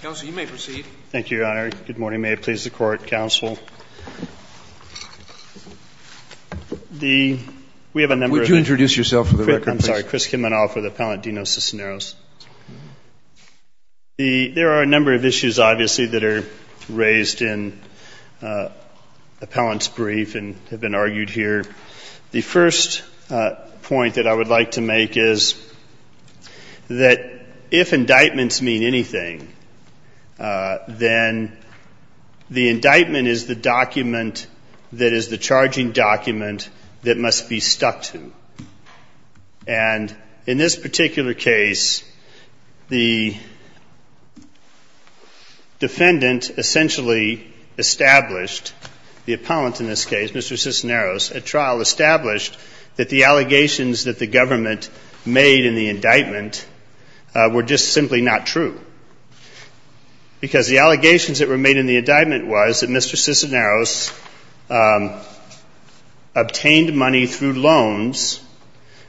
Counsel, you may proceed. Thank you, Your Honor. Good morning. May it please the Court, Counsel. We have a number of... Would you introduce yourself for the record, please? I'm sorry. Chris Kinmanoff with Appellant Dino Sisneros. There are a number of issues, obviously, that are raised in the appellant's brief and have been argued here. The first point that I would like to make is that if indictments mean anything, then the indictment is the document that is the charging document that must be stuck to. And in this particular case, the defendant essentially established, the appellant in this case, Mr. Sisneros, at trial established that the allegations that the government made in the indictment were just simply not true. Because the allegations that were made in the indictment was that Mr. Sisneros obtained money through loans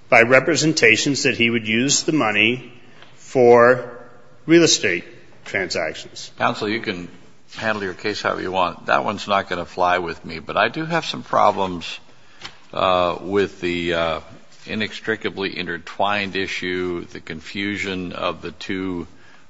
by representations that he would use the money for real estate transactions. Counsel, you can handle your case however you want. That one's not going to fly with me, but I do have some problems with the inextricably intertwined issue, the confusion of the two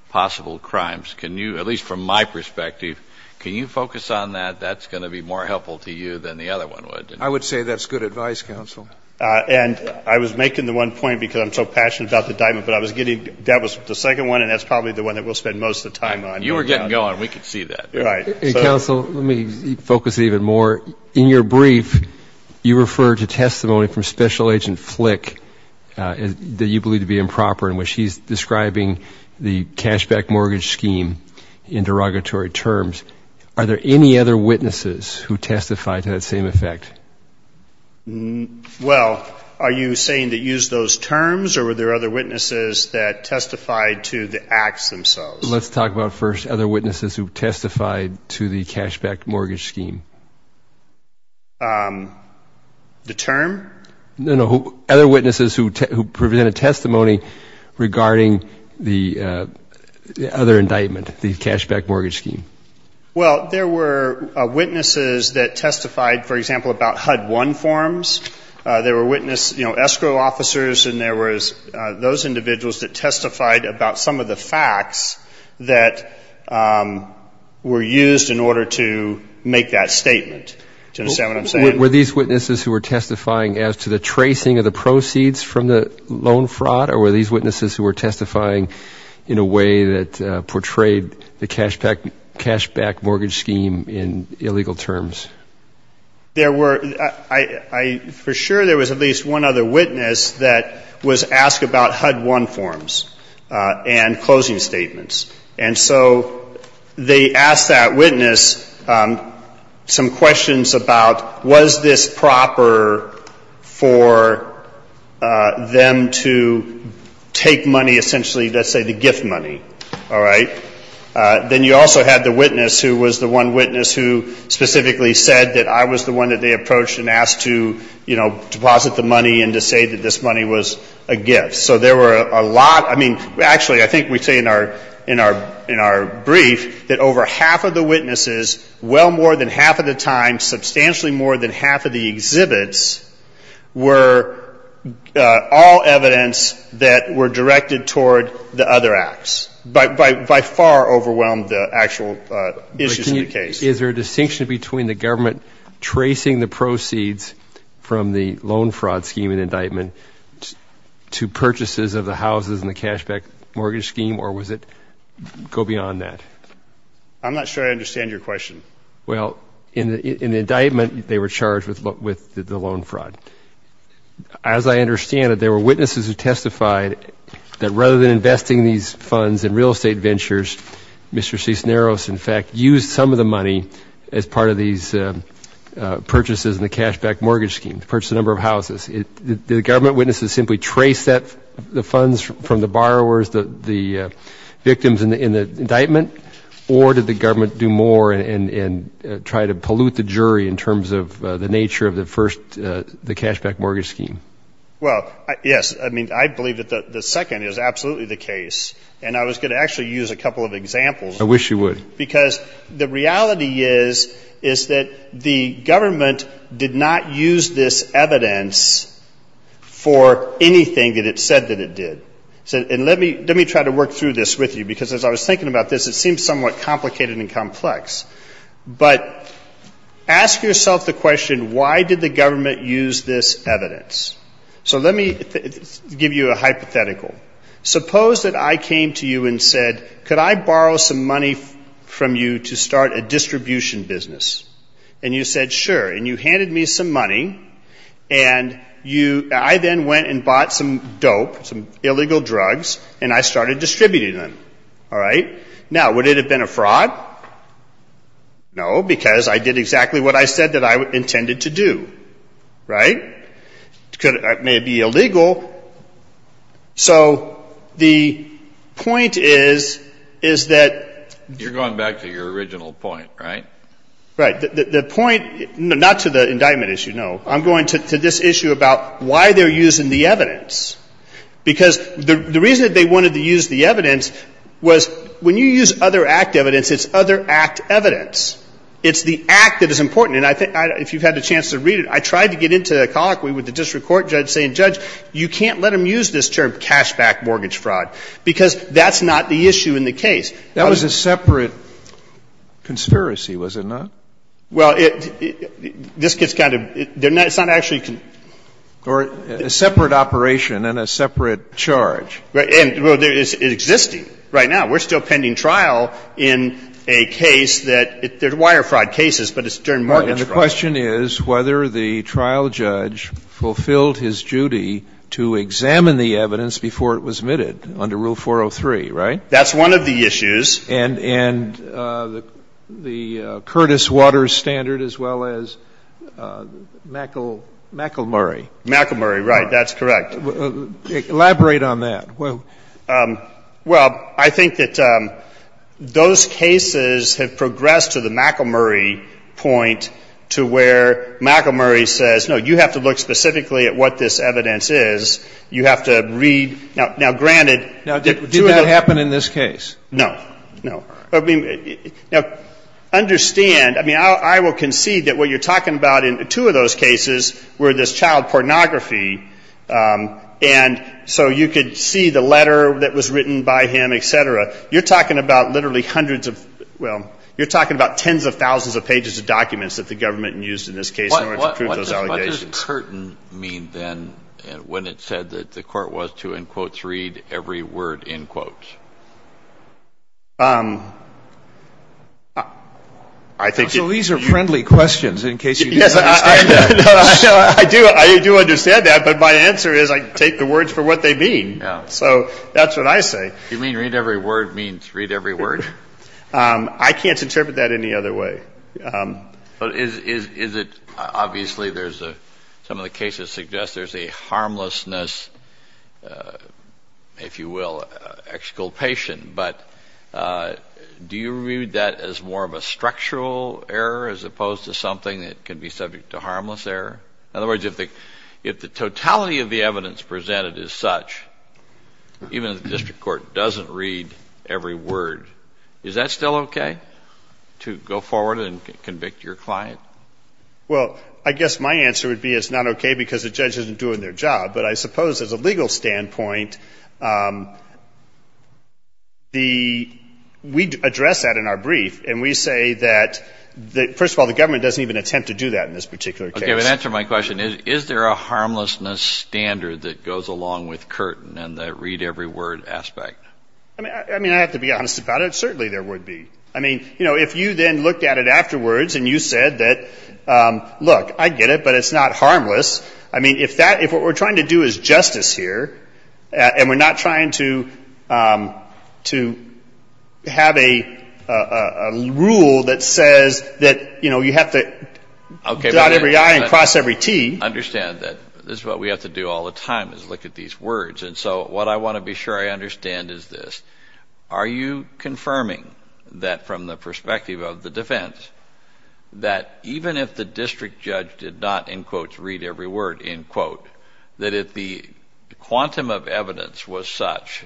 possible crimes. Can you, at least from my perspective, can you focus on that? That's going to be more helpful to you than the other one would. I would say that's good advice, Counsel. And I was making the one point because I'm so passionate about the indictment, but I was getting... That was the second one, and that's probably the one that we'll spend most of the time on. You were getting going. We could see that. Right. Counsel, let me focus even more. In your brief, you refer to testimony from Special Agent Flick that you believe to be improper, in which he's describing the cashback mortgage scheme in derogatory terms. Are there any other witnesses who testify to that same effect? Well, are you saying to use those terms, or were there other witnesses that testified to the acts themselves? Let's talk about first other witnesses who testified to the cashback mortgage scheme. The term? No, no, other witnesses who presented testimony regarding the other indictment, the cashback mortgage scheme. Well, there were witnesses that testified, for example, about HUD-1 forms. There were witnesses, you know, escrow officers, and there was those individuals that testified about some of the facts that were used in order to make that statement. Do you understand what I'm saying? Were these witnesses who were testifying as to the tracing of the proceeds from the loan fraud, or were these witnesses who were testifying in a way that portrayed the cashback mortgage scheme in illegal terms? There were – for sure there was at least one other witness that was asked about HUD-1 forms and closing statements. And so they asked that witness some questions about was this proper for them to take money, essentially, let's say the gift money. All right? Then you also had the witness who was the one witness who specifically said that I was the one that they approached and asked to, you know, deposit the money and to say that this money was a gift. So there were a lot – I mean, actually, I think we say in our brief that over half of the witnesses, well more than half of the time, substantially more than half of the exhibits were all evidence that were directed toward the other acts. By far overwhelmed the actual issues of the case. Is there a distinction between the government tracing the proceeds from the loan fraud scheme and indictment to purchases of the houses and the cashback mortgage scheme, or does it go beyond that? I'm not sure I understand your question. Well, in the indictment, they were charged with the loan fraud. As I understand it, there were witnesses who testified that rather than investing these funds in real estate ventures, Mr. Cisneros, in fact, used some of the money as part of these purchases in the cashback mortgage scheme to purchase a number of houses. Did the government witnesses simply trace that – the funds from the borrowers, the victims in the indictment, or did the government do more and try to pollute the jury in terms of the nature of the first – the cashback mortgage scheme? Well, yes. I mean, I believe that the second is absolutely the case, and I was going to actually use a couple of examples. I wish you would. Because the reality is, is that the government did not use this evidence for anything that it said that it did. And let me try to work through this with you, because as I was thinking about this, it seems somewhat complicated and complex. But ask yourself the question, why did the government use this evidence? So let me give you a hypothetical. Suppose that I came to you and said, could I borrow some money from you to start a distribution business? And you said, sure. And you handed me some money, and you – I then went and bought some dope, some illegal drugs, and I started distributing them. All right? Now, would it have been a fraud? No, because I did exactly what I said that I intended to do. Right? It may be illegal. So the point is, is that – You're going back to your original point, right? Right. The point – not to the indictment issue, no. I'm going to this issue about why they're using the evidence. Because the reason that they wanted to use the evidence was, when you use other act evidence, it's other act evidence. It's the act that is important. And I think – if you've had a chance to read it, I tried to get into colloquy with the district court judge saying, judge, you can't let them use this term, cashback mortgage fraud, because that's not the issue in the case. That was a separate conspiracy, was it not? Well, it – this gets kind of – it's not actually – Or a separate operation and a separate charge. Well, it's existing right now. We're still pending trial in a case that – there's wire fraud cases, but it's during mortgage fraud. And the question is whether the trial judge fulfilled his duty to examine the evidence before it was admitted under Rule 403, right? That's one of the issues. And the Curtis Waters standard as well as McElmurry. McElmurry, right. That's correct. Elaborate on that. Well, I think that those cases have progressed to the McElmurry point to where McElmurry says, no, you have to look specifically at what this evidence is. You have to read – now, granted – Now, did that happen in this case? No. No. Now, understand – I mean, I will concede that what you're talking about in two of those cases were this child pornography, and so you could see the letter that was written by him, et cetera. You're talking about literally hundreds of – well, you're talking about tens of thousands of pages of documents that the government used in this case in order to prove those allegations. What does Curtin mean, then, when it said that the court was to, in quotes, read every word, in quotes? I think – So these are friendly questions, in case you didn't understand that. I do. I do understand that. But my answer is I take the words for what they mean. So that's what I say. You mean read every word means read every word? I can't interpret that any other way. But is it – obviously, there's a – some of the cases suggest there's a harmlessness, if you will, exculpation. But do you view that as more of a structural error as opposed to something that could be subject to harmless error? In other words, if the totality of the evidence presented is such, even if the district court doesn't read every word, is that still okay to go forward and convict your client? Well, I guess my answer would be it's not okay because the judge isn't doing their job. But I suppose, as a legal standpoint, the – we address that in our brief, and we say that, first of all, the government doesn't even attempt to do that in this particular case. Okay, but answer my question. Is there a harmlessness standard that goes along with Curtin and the read every word aspect? I mean, I have to be honest about it. Certainly, there would be. I mean, you know, if you then looked at it afterwards and you said that, look, I get it, but it's not harmless. I mean, if that – if what we're trying to do is justice here, and we're not trying to have a rule that says that, you know, you have to dot every I and cross every T. I understand that. This is what we have to do all the time is look at these words. And so what I want to be sure I understand is this. Are you confirming that from the perspective of the defense, that even if the district judge did not, in quotes, read every word, in quote, that if the quantum of evidence was such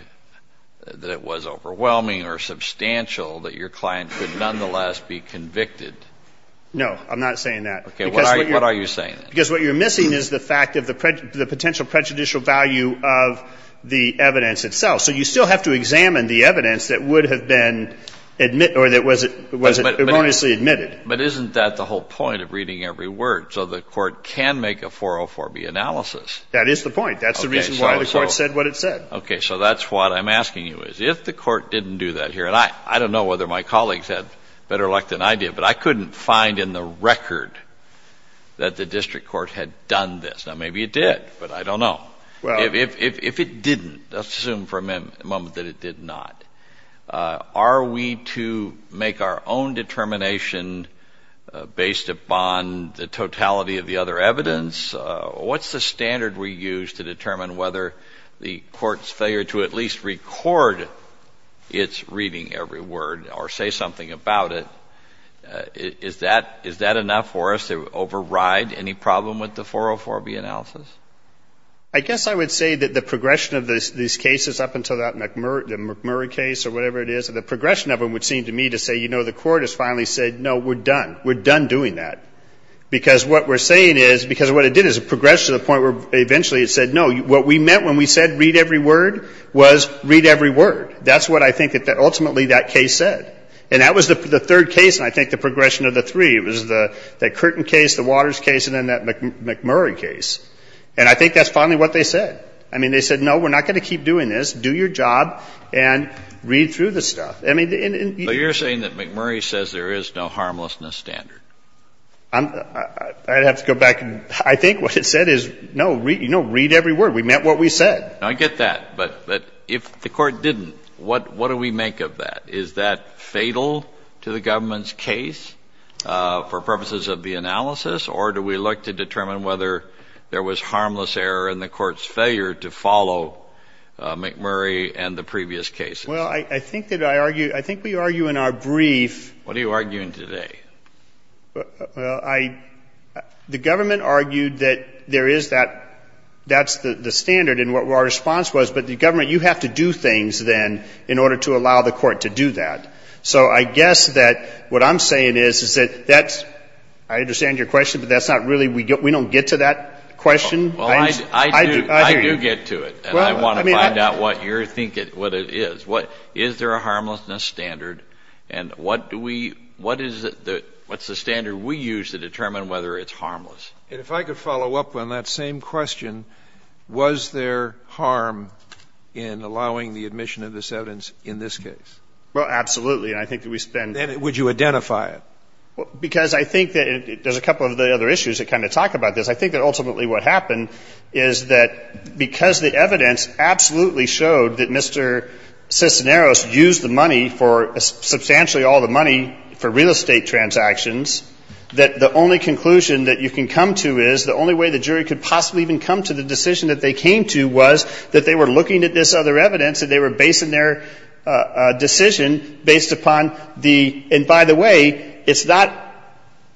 that it was overwhelming or substantial, that your client could nonetheless be convicted? No, I'm not saying that. Okay, what are you saying? Because what you're missing is the fact of the potential prejudicial value of the evidence itself. So you still have to examine the evidence that would have been – or that was erroneously admitted. But isn't that the whole point of reading every word, so the Court can make a 404B analysis? That is the point. That's the reason why the Court said what it said. Okay, so that's what I'm asking you is, if the Court didn't do that here, and I don't know whether my colleagues had better luck than I did, but I couldn't find in the record that the district court had done this. Now, maybe it did, but I don't know. If it didn't, let's assume for a moment that it did not, are we to make our own determination based upon the totality of the other evidence? What's the standard we use to determine whether the Court's failure to at least record its reading every word or say something about it, is that enough for us to override any problem with the 404B analysis? I guess I would say that the progression of these cases up until that McMurray case or whatever it is, the progression of them would seem to me to say, you know, the Court has finally said, no, we're done. We're done doing that. Because what we're saying is, because what it did is it progressed to the point where eventually it said, no, what we meant when we said read every word was read every word. That's what I think that ultimately that case said. And that was the third case, and I think the progression of the three. It was the Curtin case, the Waters case, and then that McMurray case. And I think that's finally what they said. I mean, they said, no, we're not going to keep doing this. Do your job and read through the stuff. I mean, in the end you're saying that McMurray says there is no harmlessness standard. I'd have to go back. I think what it said is, no, read every word. We meant what we said. I get that. But if the Court didn't, what do we make of that? Is that fatal to the government's case for purposes of the analysis, or do we look to determine whether there was harmless error in the Court's failure to follow McMurray and the previous cases? Well, I think that I argue, I think we argue in our brief. What are you arguing today? Well, I, the government argued that there is that, that's the standard in what our response was. But the government, you have to do things then in order to allow the Court to do that. So I guess that what I'm saying is, is that that's, I understand your question, but that's not really, we don't get to that question. Well, I do get to it. And I want to find out what you're thinking, what it is. Is there a harmlessness standard? And what do we, what is the, what's the standard we use to determine whether it's harmless? And if I could follow up on that same question, was there harm in allowing the admission of this evidence in this case? Well, absolutely. And I think that we spend Then would you identify it? Because I think that there's a couple of other issues that kind of talk about this. I think that ultimately what happened is that because the evidence absolutely showed that Mr. Cisneros used the money for, substantially all the money for real estate transactions, that the only conclusion that you can come to is, the only way the jury could possibly even come to the decision that they came to was that they were looking at this other evidence and they were basing their decision based upon the, and by the way, it's not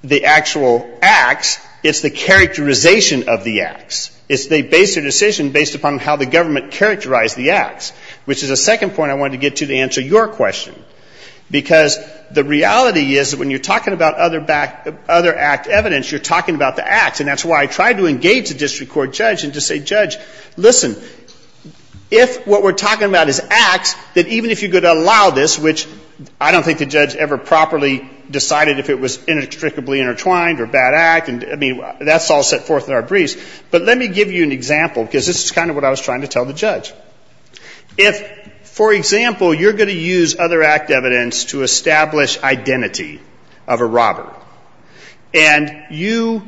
the actual acts. It's the characterization of the acts. It's they based their decision based upon how the government characterized the acts, which is the second point I wanted to get to to answer your question. Because the reality is that when you're talking about other act evidence, you're talking about the acts. And that's why I tried to engage the district court judge and to say, judge, listen, if what we're talking about is acts, that even if you could allow this, which I don't think the judge ever properly decided if it was inextricably intertwined or bad act, I mean, that's all set forth in our briefs. But let me give you an example because this is kind of what I was trying to tell the judge. If, for example, you're going to use other act evidence to establish identity of a robber and you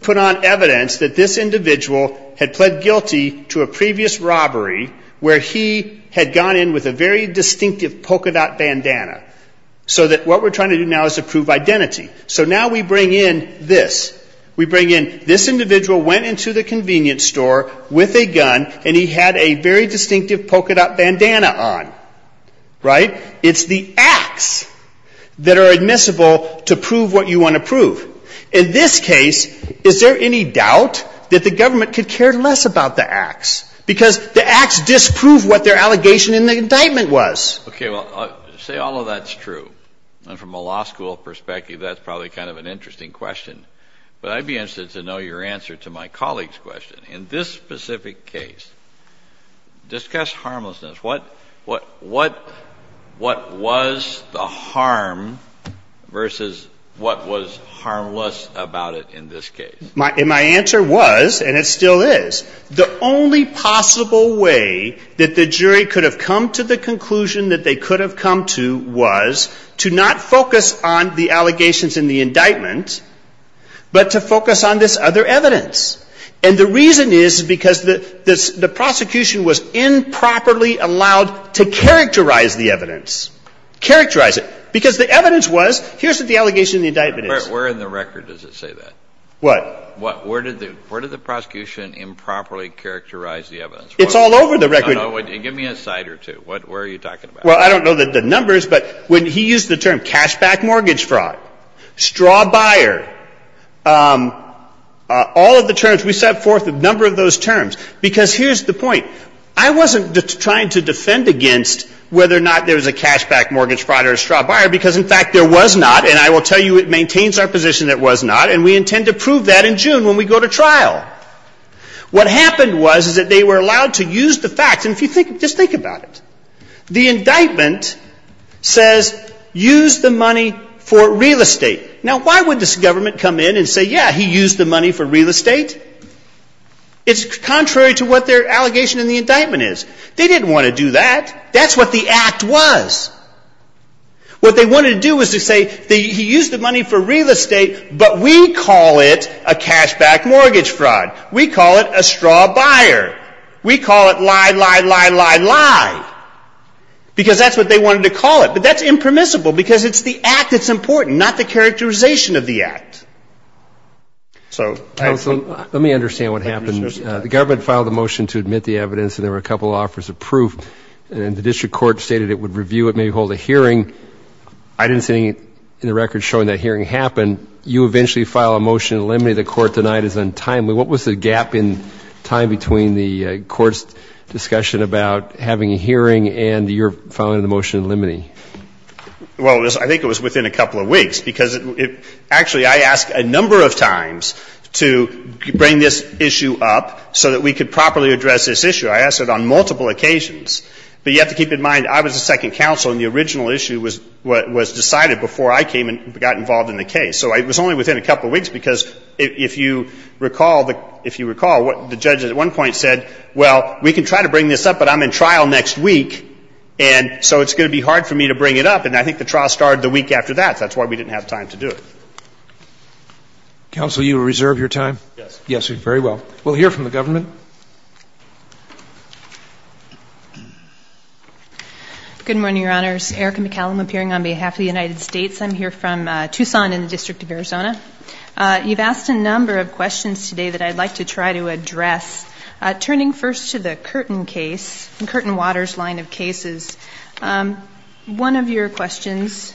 put on evidence that this individual had pled guilty to a previous robbery where he had gone in with a very distinctive polka dot bandana, so that what we're trying to do now is to prove identity. So now we bring in this. We bring in this individual went into the convenience store with a gun and he had a very distinctive polka dot bandana on, right? It's the acts that are admissible to prove what you want to prove. In this case, is there any doubt that the government could care less about the acts? Because the acts disprove what their allegation in the indictment was. Okay. Well, say all of that's true. And from a law school perspective, that's probably kind of an interesting question. But I'd be interested to know your answer to my colleague's question. In this specific case, discuss harmlessness. What was the harm versus what was harmless about it in this case? My answer was, and it still is, the only possible way that the jury could have come to the conclusion that they could have come to was to not focus on the allegations in the indictment, but to focus on this other evidence. And the reason is because the prosecution was improperly allowed to characterize the evidence. Characterize it. Because the evidence was, here's what the allegation in the indictment is. Where in the record does it say that? What? Where did the prosecution improperly characterize the evidence? It's all over the record. Give me a cite or two. Where are you talking about? Well, I don't know the numbers, but when he used the term cashback mortgage fraud, straw buyer, all of the terms, we set forth a number of those terms. Because here's the point. I wasn't trying to defend against whether or not there was a cashback mortgage fraud or a straw buyer, because, in fact, there was not. And I will tell you it maintains our position it was not. And we intend to prove that in June when we go to trial. What happened was is that they were allowed to use the facts. And if you think, just think about it. The indictment says, use the money for real estate. Now, why would this government come in and say, yeah, he used the money for real estate? It's contrary to what their allegation in the indictment is. They didn't want to do that. That's what the act was. What they wanted to do was to say, he used the money for real estate, but we call it a cashback mortgage fraud. We call it a straw buyer. We call it lie, lie, lie, lie, lie. Because that's what they wanted to call it. But that's impermissible because it's the act that's important, not the characterization of the act. So, I think. Let me understand what happened. The government filed a motion to admit the evidence, and there were a couple offers of proof. And the district court stated it would review it, maybe hold a hearing. I didn't see anything in the record showing that hearing happened. You eventually filed a motion to eliminate the court, denied as untimely. What was the gap in time between the court's discussion about having a hearing and your filing of the motion to eliminate? Well, I think it was within a couple of weeks. Because, actually, I asked a number of times to bring this issue up so that we could properly address this issue. I asked it on multiple occasions. But you have to keep in mind, I was the second counsel, and the original issue was decided before I came and got involved in the case. So it was only within a couple of weeks. Because if you recall, the judge at one point said, well, we can try to bring this up, but I'm in trial next week. And so it's going to be hard for me to bring it up. And I think the trial started the week after that. That's why we didn't have time to do it. Counsel, you reserve your time? Yes. Yes, very well. We'll hear from the government. Good morning, Your Honors. Erica McCallum, appearing on behalf of the United States. I'm here from Tucson in the District of Arizona. You've asked a number of questions today that I'd like to try to address. Turning first to the Curtin case, the Curtin-Waters line of cases, one of your questions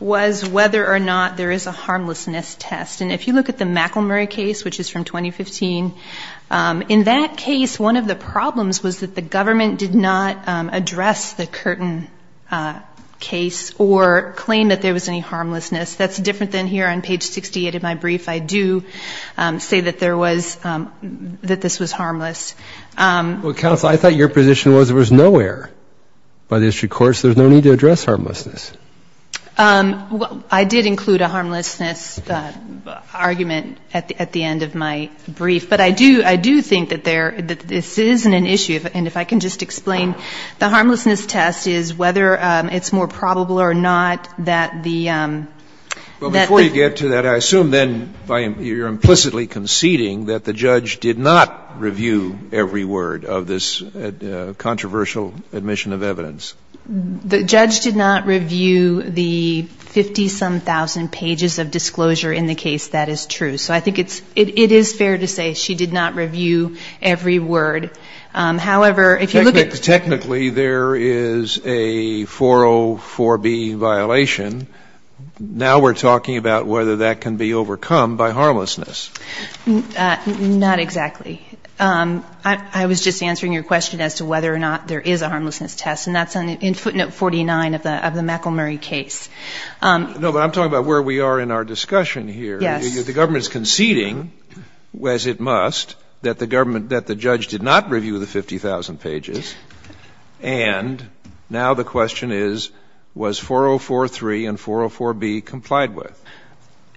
was whether or not there is a harmlessness test. And if you look at the McElmurry case, which is from 2015, in that case, one of the problems was that the government did not address the Curtin case or claim that there was any harmlessness. That's different than here on page 68 of my brief. I do say that this was harmless. Counsel, I thought your position was there was no error by the district courts. There's no need to address harmlessness. I did include a harmlessness argument at the end of my brief. But I do think that this isn't an issue. And if I can just explain, the harmlessness test is whether it's more probable or not that the ‑‑ But before you get to that, I assume then you're implicitly conceding that the judge did not review every word of this controversial admission of evidence. The judge did not review the 50-some-thousand pages of disclosure in the case. That is true. So I think it is fair to say she did not review every word. However, if you look at ‑‑ Technically, there is a 404B violation. Now we're talking about whether that can be overcome by harmlessness. Not exactly. I was just answering your question as to whether or not there is a harmlessness test. And that's in footnote 49 of the McElmurry case. No, but I'm talking about where we are in our discussion here. Yes. The government is conceding, as it must, that the government ‑‑ that the judge did not review the 50,000 pages. And now the question is, was 404A and 404B complied with?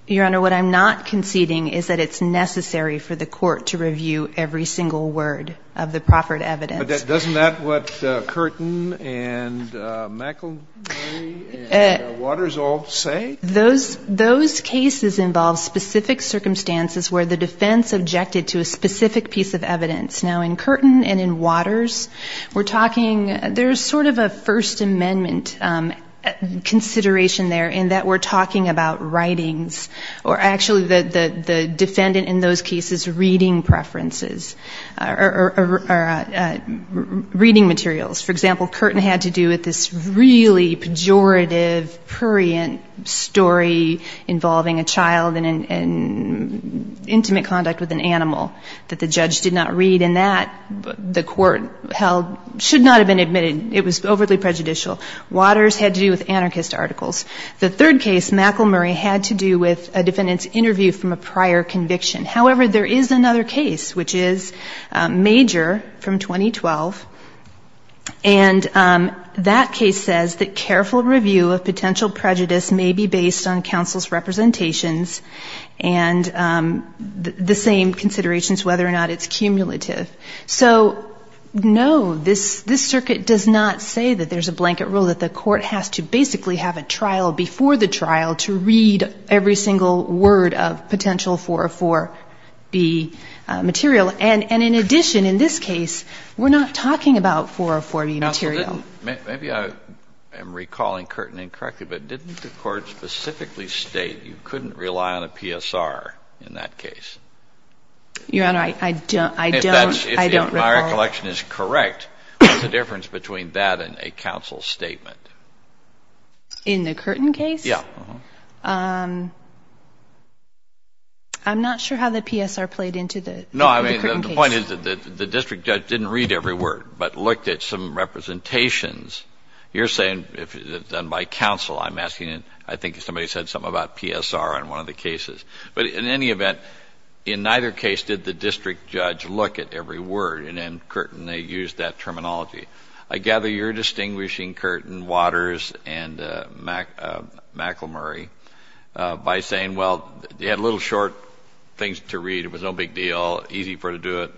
Your Honor, what I'm not conceding is that it's necessary for the court to review every single word of the proffered evidence. But doesn't that what Curtin and McElmurry and Waters all say? Those cases involve specific circumstances where the defense objected to a specific piece of evidence. Now, in Curtin and in Waters, we're talking ‑‑ there's sort of a First Amendment consideration there in that we're talking about writings. Or actually, the defendant in those cases, reading preferences. Or reading materials. For example, Curtin had to do with this really pejorative, prurient story involving a child and intimate conduct with an animal that the judge did not read. And that, the court held, should not have been admitted. It was overly prejudicial. Waters had to do with anarchist articles. The third case, McElmurry, had to do with a defendant's interview from a prior conviction. However, there is another case, which is major from 2012. And that case says that careful review of potential prejudice may be based on counsel's representations and the same considerations whether or not it's cumulative. So, no, this circuit does not say that there's a blanket rule that the court has to basically have a trial before the trial to read every single word of potential 404B material. And in addition, in this case, we're not talking about 404B material. Maybe I am recalling Curtin incorrectly, but didn't the court specifically state you couldn't rely on a PSR in that case? Your Honor, I don't recall. If my recollection is correct, what's the difference between that and a counsel's statement? In the Curtin case? Yeah. I'm not sure how the PSR played into the Curtin case. No, I mean, the point is that the district judge didn't read every word, but looked at some representations. You're saying, if it's done by counsel, I'm asking, I think somebody said something about PSR on one of the cases. But in any event, in neither case did the district judge look at every word, and in Curtin they used that terminology. I gather you're distinguishing Curtin, Waters, and McElmurry by saying, well, they had little short things to read, it was no big deal, easy for them to do it,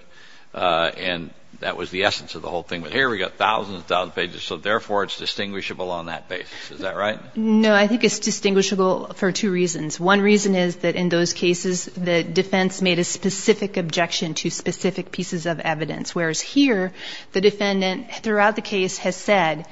and that was the essence of the whole thing. But here we've got thousands and thousands of pages, so therefore it's distinguishable on that basis. Is that right? No, I think it's distinguishable for two reasons. One reason is that in those cases, the defense made a specific objection to specific pieces of evidence. Whereas here, the defendant throughout the case has said,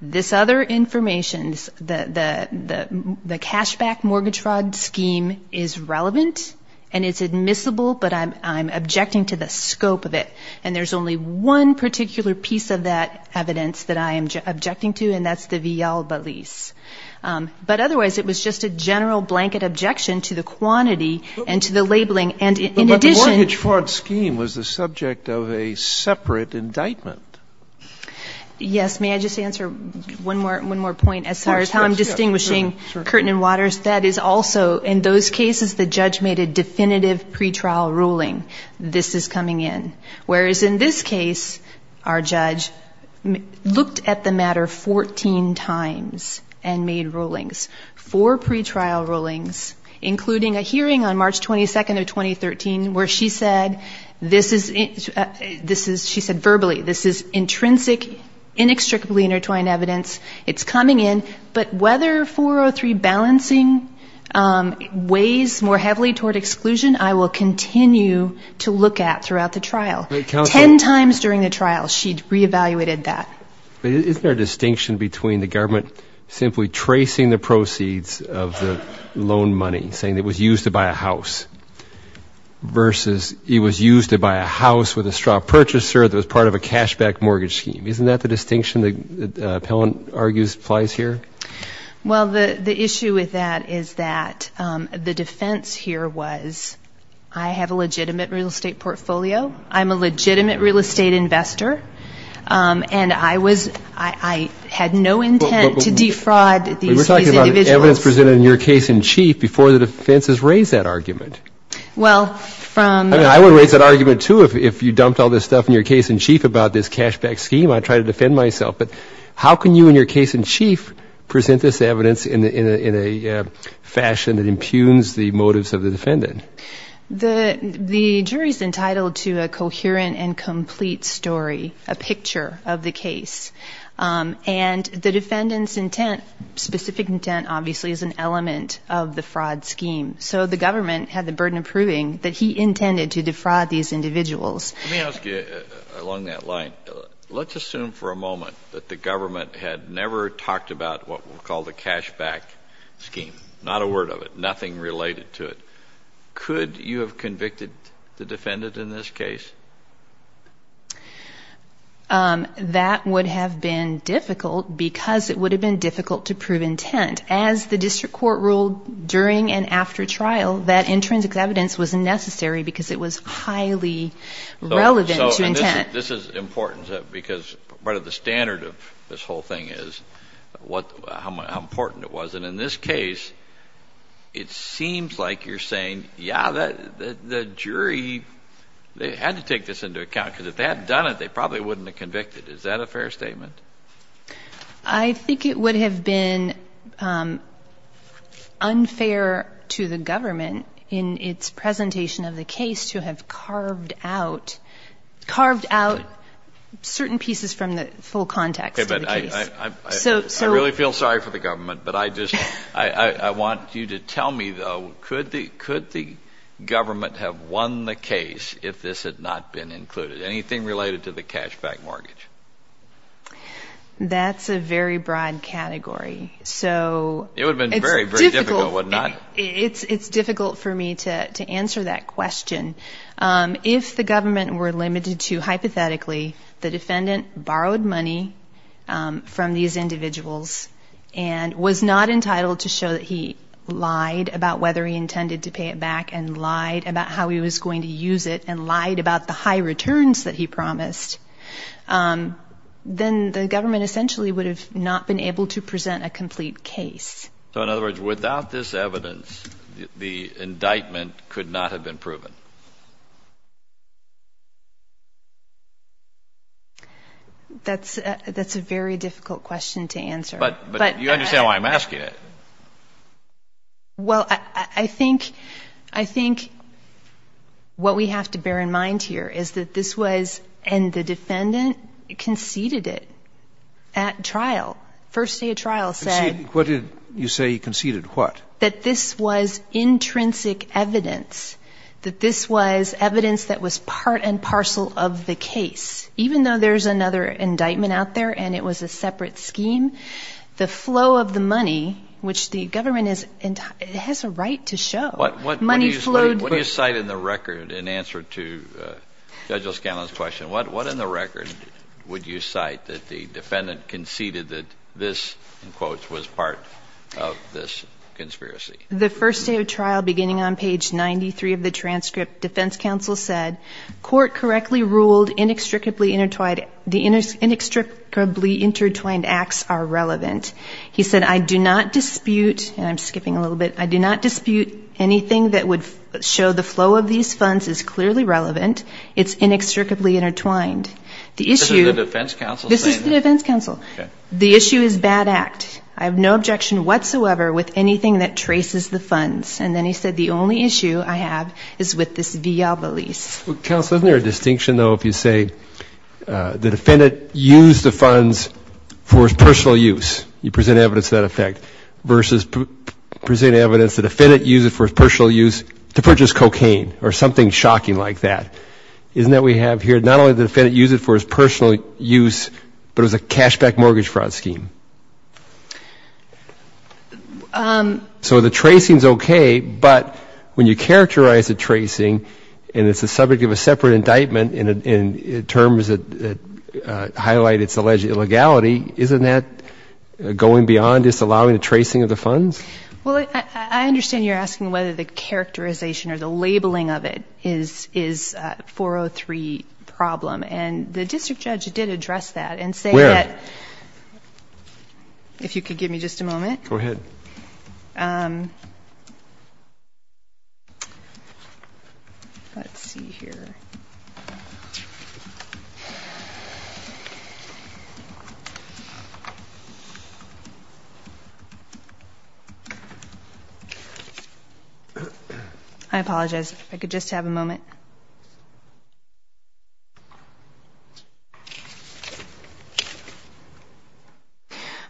this other information, the cashback mortgage fraud scheme is relevant, and it's admissible, but I'm objecting to the scope of it. And there's only one particular piece of that evidence that I am objecting to, and that's the Villalba lease. But otherwise, it was just a general blanket objection to the quantity and to the labeling. And in addition to that, the mortgage fraud scheme was the subject of a separate indictment. Yes. May I just answer one more point as far as how I'm distinguishing Curtin and Waters? That is also, in those cases, the judge made a definitive pretrial ruling, this is coming in. Whereas in this case, our judge looked at the matter 14 times and made rulings, four pretrial rulings, including a hearing on March 22nd of 2013 where she said this is, she said verbally, this is intrinsic, inextricably intertwined evidence, it's coming in, but whether 403 balancing weighs more heavily toward exclusion, I will continue to look at throughout the trial. Ten times during the trial, she re-evaluated that. But isn't there a distinction between the government simply tracing the proceeds of the loan money, saying it was used to buy a house, versus it was used to buy a house with a straw purchaser that was part of a cashback mortgage scheme? Isn't that the distinction that the appellant argues applies here? Well, the issue with that is that the defense here was I have a legitimate real estate portfolio, I'm a legitimate real estate investor, and I was, I had no intent to defraud these individuals. We're talking about evidence presented in your case in chief before the defense has raised that argument. Well, from... Can you present this evidence in a fashion that impugns the motives of the defendant? The jury's entitled to a coherent and complete story, a picture of the case. And the defendant's intent, specific intent, obviously, is an element of the fraud scheme. So the government had the burden of proving that he intended to defraud these individuals. Let me ask you along that line. This is what we'll call the cashback scheme, not a word of it, nothing related to it. Could you have convicted the defendant in this case? That would have been difficult because it would have been difficult to prove intent. As the district court ruled during and after trial, that intrinsic evidence was necessary because it was highly relevant to intent. This is important because part of the standard of this whole thing is how important it was. And in this case, it seems like you're saying, yeah, the jury, they had to take this into account because if they had done it, they probably wouldn't have convicted. Is that a fair statement? I think it would have been unfair to the government in its presentation of the case for those who have carved out certain pieces from the full context of the case. I really feel sorry for the government, but I want you to tell me, though, could the government have won the case if this had not been included, anything related to the cashback mortgage? That's a very broad category. It would have been very, very difficult, wouldn't it? It's difficult for me to answer that question. If the government were limited to hypothetically the defendant borrowed money from these individuals and was not entitled to show that he lied about whether he intended to pay it back and lied about how he was going to use it and lied about the high returns that he promised, then the government essentially would have not been able to present a complete case. So in other words, without this evidence, the indictment could not have been proven? That's a very difficult question to answer. But you understand why I'm asking it. Well, I think what we have to bear in mind here is that this was and the defendant conceded it at trial. First day of trial said... Conceded what? That this was intrinsic evidence, that this was evidence that was part and parcel of the case. Which the government has a right to show. What do you cite in the record in answer to Judge O'Scannon's question? What in the record would you cite that the defendant conceded that this, in quotes, was part of this conspiracy? The first day of trial, beginning on page 93 of the transcript, defense counsel said, court correctly ruled the inextricably intertwined acts are relevant. He said, I do not dispute, and I'm skipping a little bit, I do not dispute anything that would show the flow of these funds is clearly relevant. It's inextricably intertwined. The issue is bad act. I have no objection whatsoever with anything that traces the funds. And then he said, the only issue I have is with this viabilis. Counsel, isn't there a distinction, though, if you say the defendant used the funds for his personal use? You present evidence of that effect. Versus present evidence the defendant used it for his personal use to purchase cocaine or something shocking like that. Isn't that what we have here? Not only did the defendant use it for his personal use, but it was a cashback mortgage fraud scheme. So the tracing is okay, but when you characterize the tracing, and it's the subject of a separate indictment in terms that highlight its alleged illegality, isn't that going beyond just allowing the tracing of the funds? Well, I understand you're asking whether the characterization or the labeling of it is 403. That's a problem, and the district judge did address that and say that. Where? If you could give me just a moment.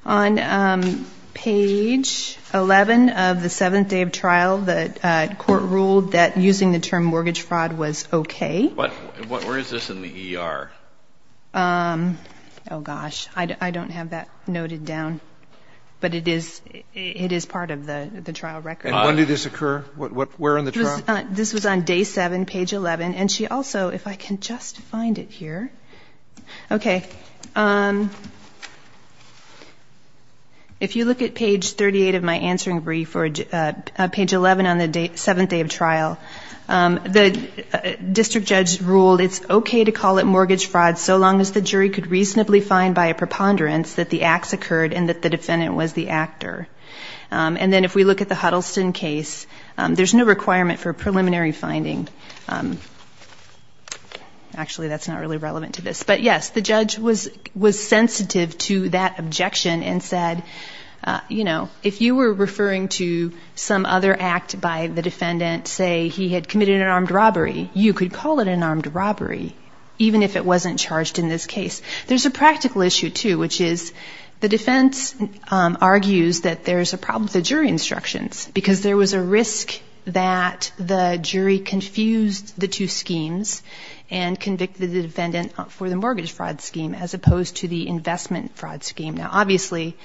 On page 11 of the seventh day of trial, the court ruled that using the term mortgage fraud was okay. Where is this in the ER? Oh, gosh. I don't have that noted down, but it is part of the trial record. And when did this occur? Where in the trial? Okay. If you look at page 38 of my answering brief, or page 11 on the seventh day of trial, the district judge ruled it's okay to call it mortgage fraud so long as the jury could reasonably find by a preponderance that the acts occurred and that the defendant was the actor. And then if we look at the Huddleston case, there's no requirement for preliminary finding. That's not really relevant to this. But, yes, the judge was sensitive to that objection and said, you know, if you were referring to some other act by the defendant, say he had committed an armed robbery, you could call it an armed robbery, even if it wasn't charged in this case. There's a practical issue, too, which is the defense argues that there's a problem with the jury instructions, because there was a risk that the jury confused the two schemes and convicted the defendant. For the mortgage fraud scheme, as opposed to the investment fraud scheme. Now, obviously,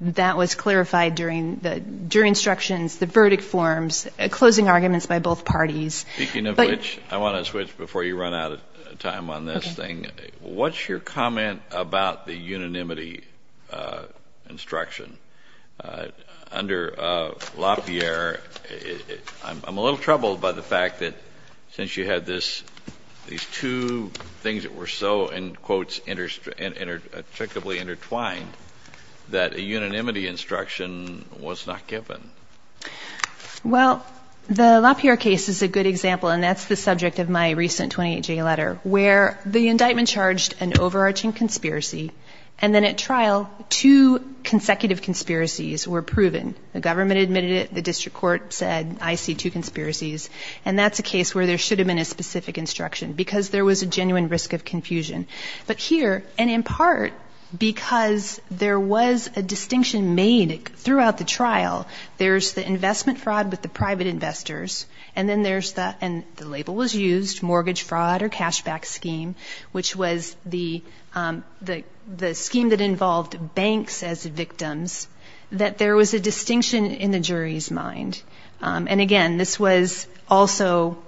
that was clarified during the jury instructions, the verdict forms, closing arguments by both parties. Speaking of which, I want to switch before you run out of time on this thing. What's your comment about the unanimity instruction? Under Lafayette, I'm a little troubled by the fact that since you had this, these two things that you said, these two things that were so, in quotes, intricately intertwined, that a unanimity instruction was not given. Well, the LaPierre case is a good example, and that's the subject of my recent 28-J letter, where the indictment charged an overarching conspiracy, and then at trial two consecutive conspiracies were proven. The government admitted it, the district court said, I see two conspiracies, and that's a case where there should have been a specific instruction, because there was a genuine risk of confusion. But here, and in part because there was a distinction made throughout the trial, there's the investment fraud with the private investors, and then there's the, and the label was used, mortgage fraud or cashback scheme, which was the scheme that involved banks as victims, that there was a distinction in the jury's mind. And again, this was also,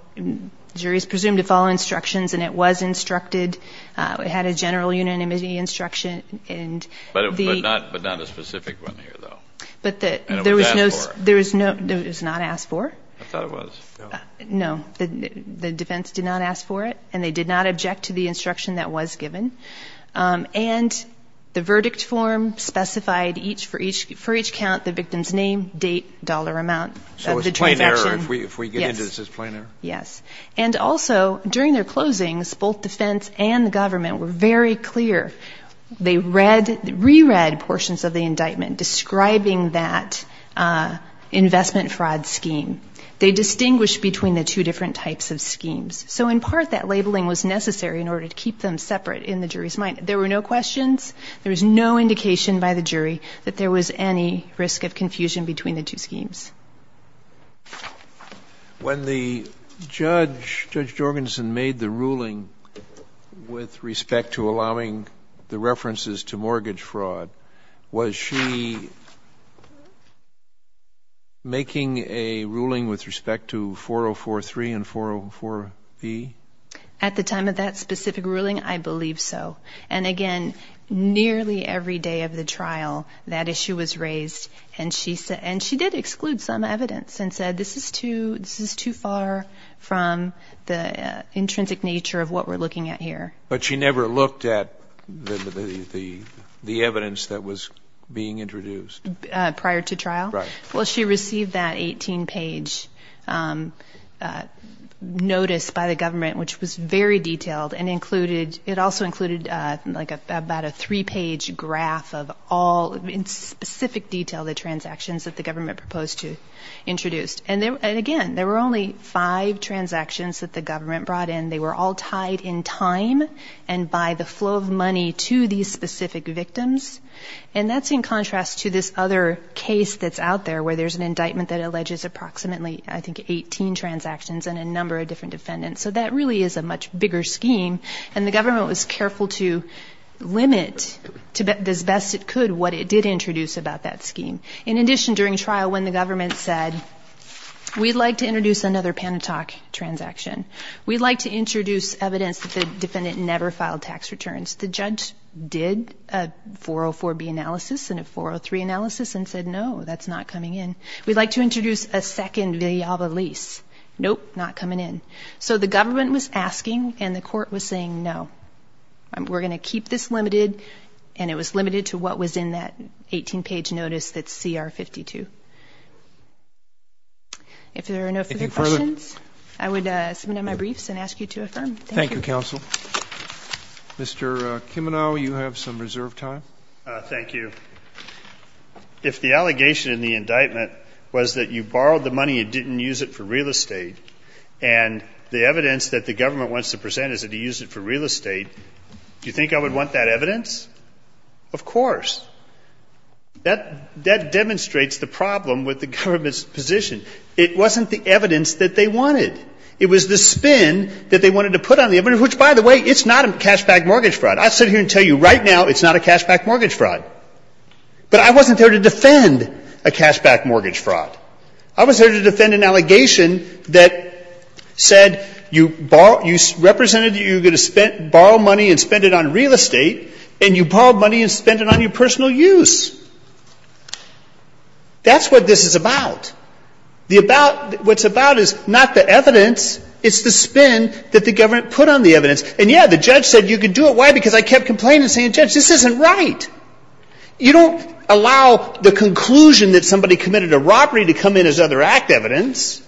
juries presumed to follow instructions, and it was instructed, it had a general unanimity instruction, and the... But not a specific one here, though. But there was no, it was not asked for. I thought it was. No, the defense did not ask for it, and they did not object to the instruction that was given. And the verdict form specified each, for each count, the victim's name, date, dollar amount of the transaction. So it's plain error, if we get into this, it's plain error? Yes. And also, during their closings, both defense and the government were very clear. They read, re-read portions of the indictment describing that investment fraud scheme. So in part, that labeling was necessary in order to keep them separate in the jury's mind. There were no questions, there was no indication by the jury that there was any risk of confusion between the two schemes. When the judge, Judge Jorgensen, made the ruling with respect to allowing the references to mortgage fraud, was she making a ruling with respect to 4043 and 404... At the time of that specific ruling, I believe so. And again, nearly every day of the trial, that issue was raised. And she said, and she did exclude some evidence and said, this is too far from the intrinsic nature of what we're looking at here. But she never looked at the evidence that was being introduced? Prior to trial? Well, she received that 18-page notice by the government, which was very detailed and included... It also included, like, about a three-page graph of all, in specific detail, the transactions that the government proposed to introduce. And again, there were only five transactions that the government brought in. They were all tied in time and by the flow of money to these specific victims. And that's in contrast to this other case that's out there, where there's an indictment that alleges approximately, I think, 18 transactions and a number of different defendants. So that really is a much bigger scheme, and the government was careful to limit, as best it could, what it did introduce about that scheme. In addition, during trial, when the government said, we'd like to introduce another PANITOC transaction, we'd like to introduce evidence that the defendant never filed tax returns, the judge did a 404B analysis and a 403 analysis and said, no, that's not coming in. We'd like to introduce a second Villalba lease. Nope, not coming in. So the government was asking, and the court was saying, no, we're going to keep this limited, and it was limited to what was in that 18-page notice that's CR 52. If there are no further questions, I would submit my briefs and ask you to affirm. Thank you, counsel. Mr. Kimenow, you have some reserve time. Thank you. If the allegation in the indictment was that you borrowed the money and didn't use it for real estate, and the evidence that the government wants to present is that you used it for real estate, do you think I would want that evidence? Of course. That demonstrates the problem with the government's position. It wasn't the evidence that they wanted. It was the spin that they wanted to put on the evidence, which, by the way, it's not a cashback mortgage fraud. I'd sit here and tell you right now it's not a cashback mortgage fraud. But I wasn't there to defend a cashback mortgage fraud. I was there to defend an allegation that said you represented that you were going to borrow money and spend it on real estate, and you borrowed money and spent it on your personal use. That's what this is about. What it's about is not the evidence. It's the spin that the government put on the evidence. And, yeah, the judge said you could do it. Why? Because I kept complaining and saying, Judge, this isn't right. You don't allow the conclusion that somebody committed a robbery to come in as other act evidence.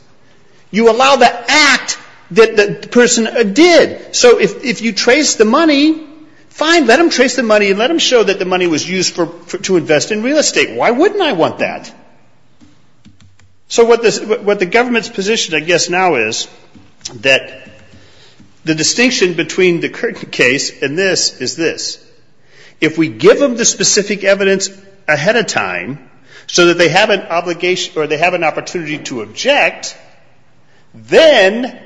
You allow the act that the person did. So if you trace the money, fine, let them trace the money and let them show that the money was used to invest in real estate. Why wouldn't I want that? So what the government's position, I guess, now is that the distinction between the case and this is this. If we give them the specific evidence ahead of time so that they have an obligation or they have an opportunity to object, then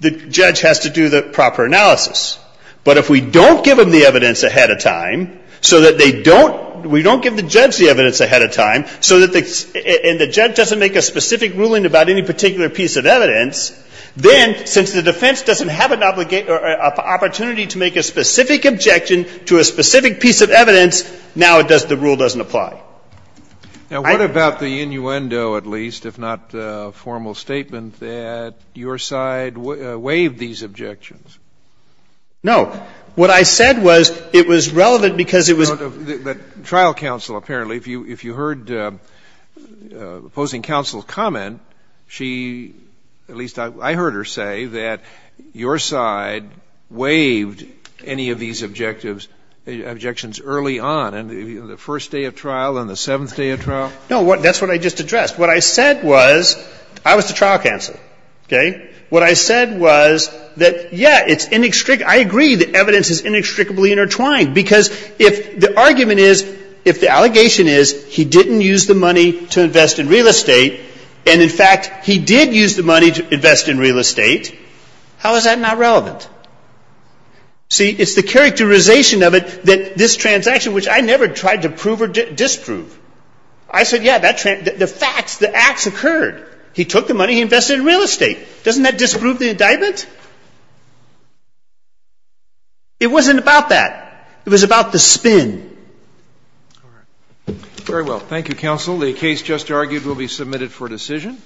the judge has to do the proper analysis. But if we don't give them the evidence ahead of time so that they don't, we don't give the judge the evidence ahead of time so that they, and the judge doesn't make a specific ruling about any particular piece of evidence, then since the defense doesn't have an obligation or opportunity to make a specific objection to a specific piece of evidence, now the rule doesn't apply. Now, what about the innuendo, at least, if not a formal statement, that your side waived these objections? No. What I said was it was relevant because it was. The trial counsel apparently, if you heard opposing counsel's comment, she, at least I heard her say that your side waived any of these objectives, objections early on. The first day of trial and the seventh day of trial? No. That's what I just addressed. What I said was, I was the trial counsel. Okay? What I said was that, yeah, it's inextricable. I agree that evidence is inextricably intertwined because if the argument is, if the allegation is he didn't use the money to invest in real estate and, in fact, he did use the money to invest in real estate, how is that not relevant? See, it's the characterization of it that this transaction, which I never tried to prove or disprove, I said, yeah, the facts, the acts occurred. He took the money. He invested in real estate. Doesn't that disprove the indictment? It wasn't about that. It was about the spin. All right. Very well. Thank you, counsel. The case just argued will be submitted for decision.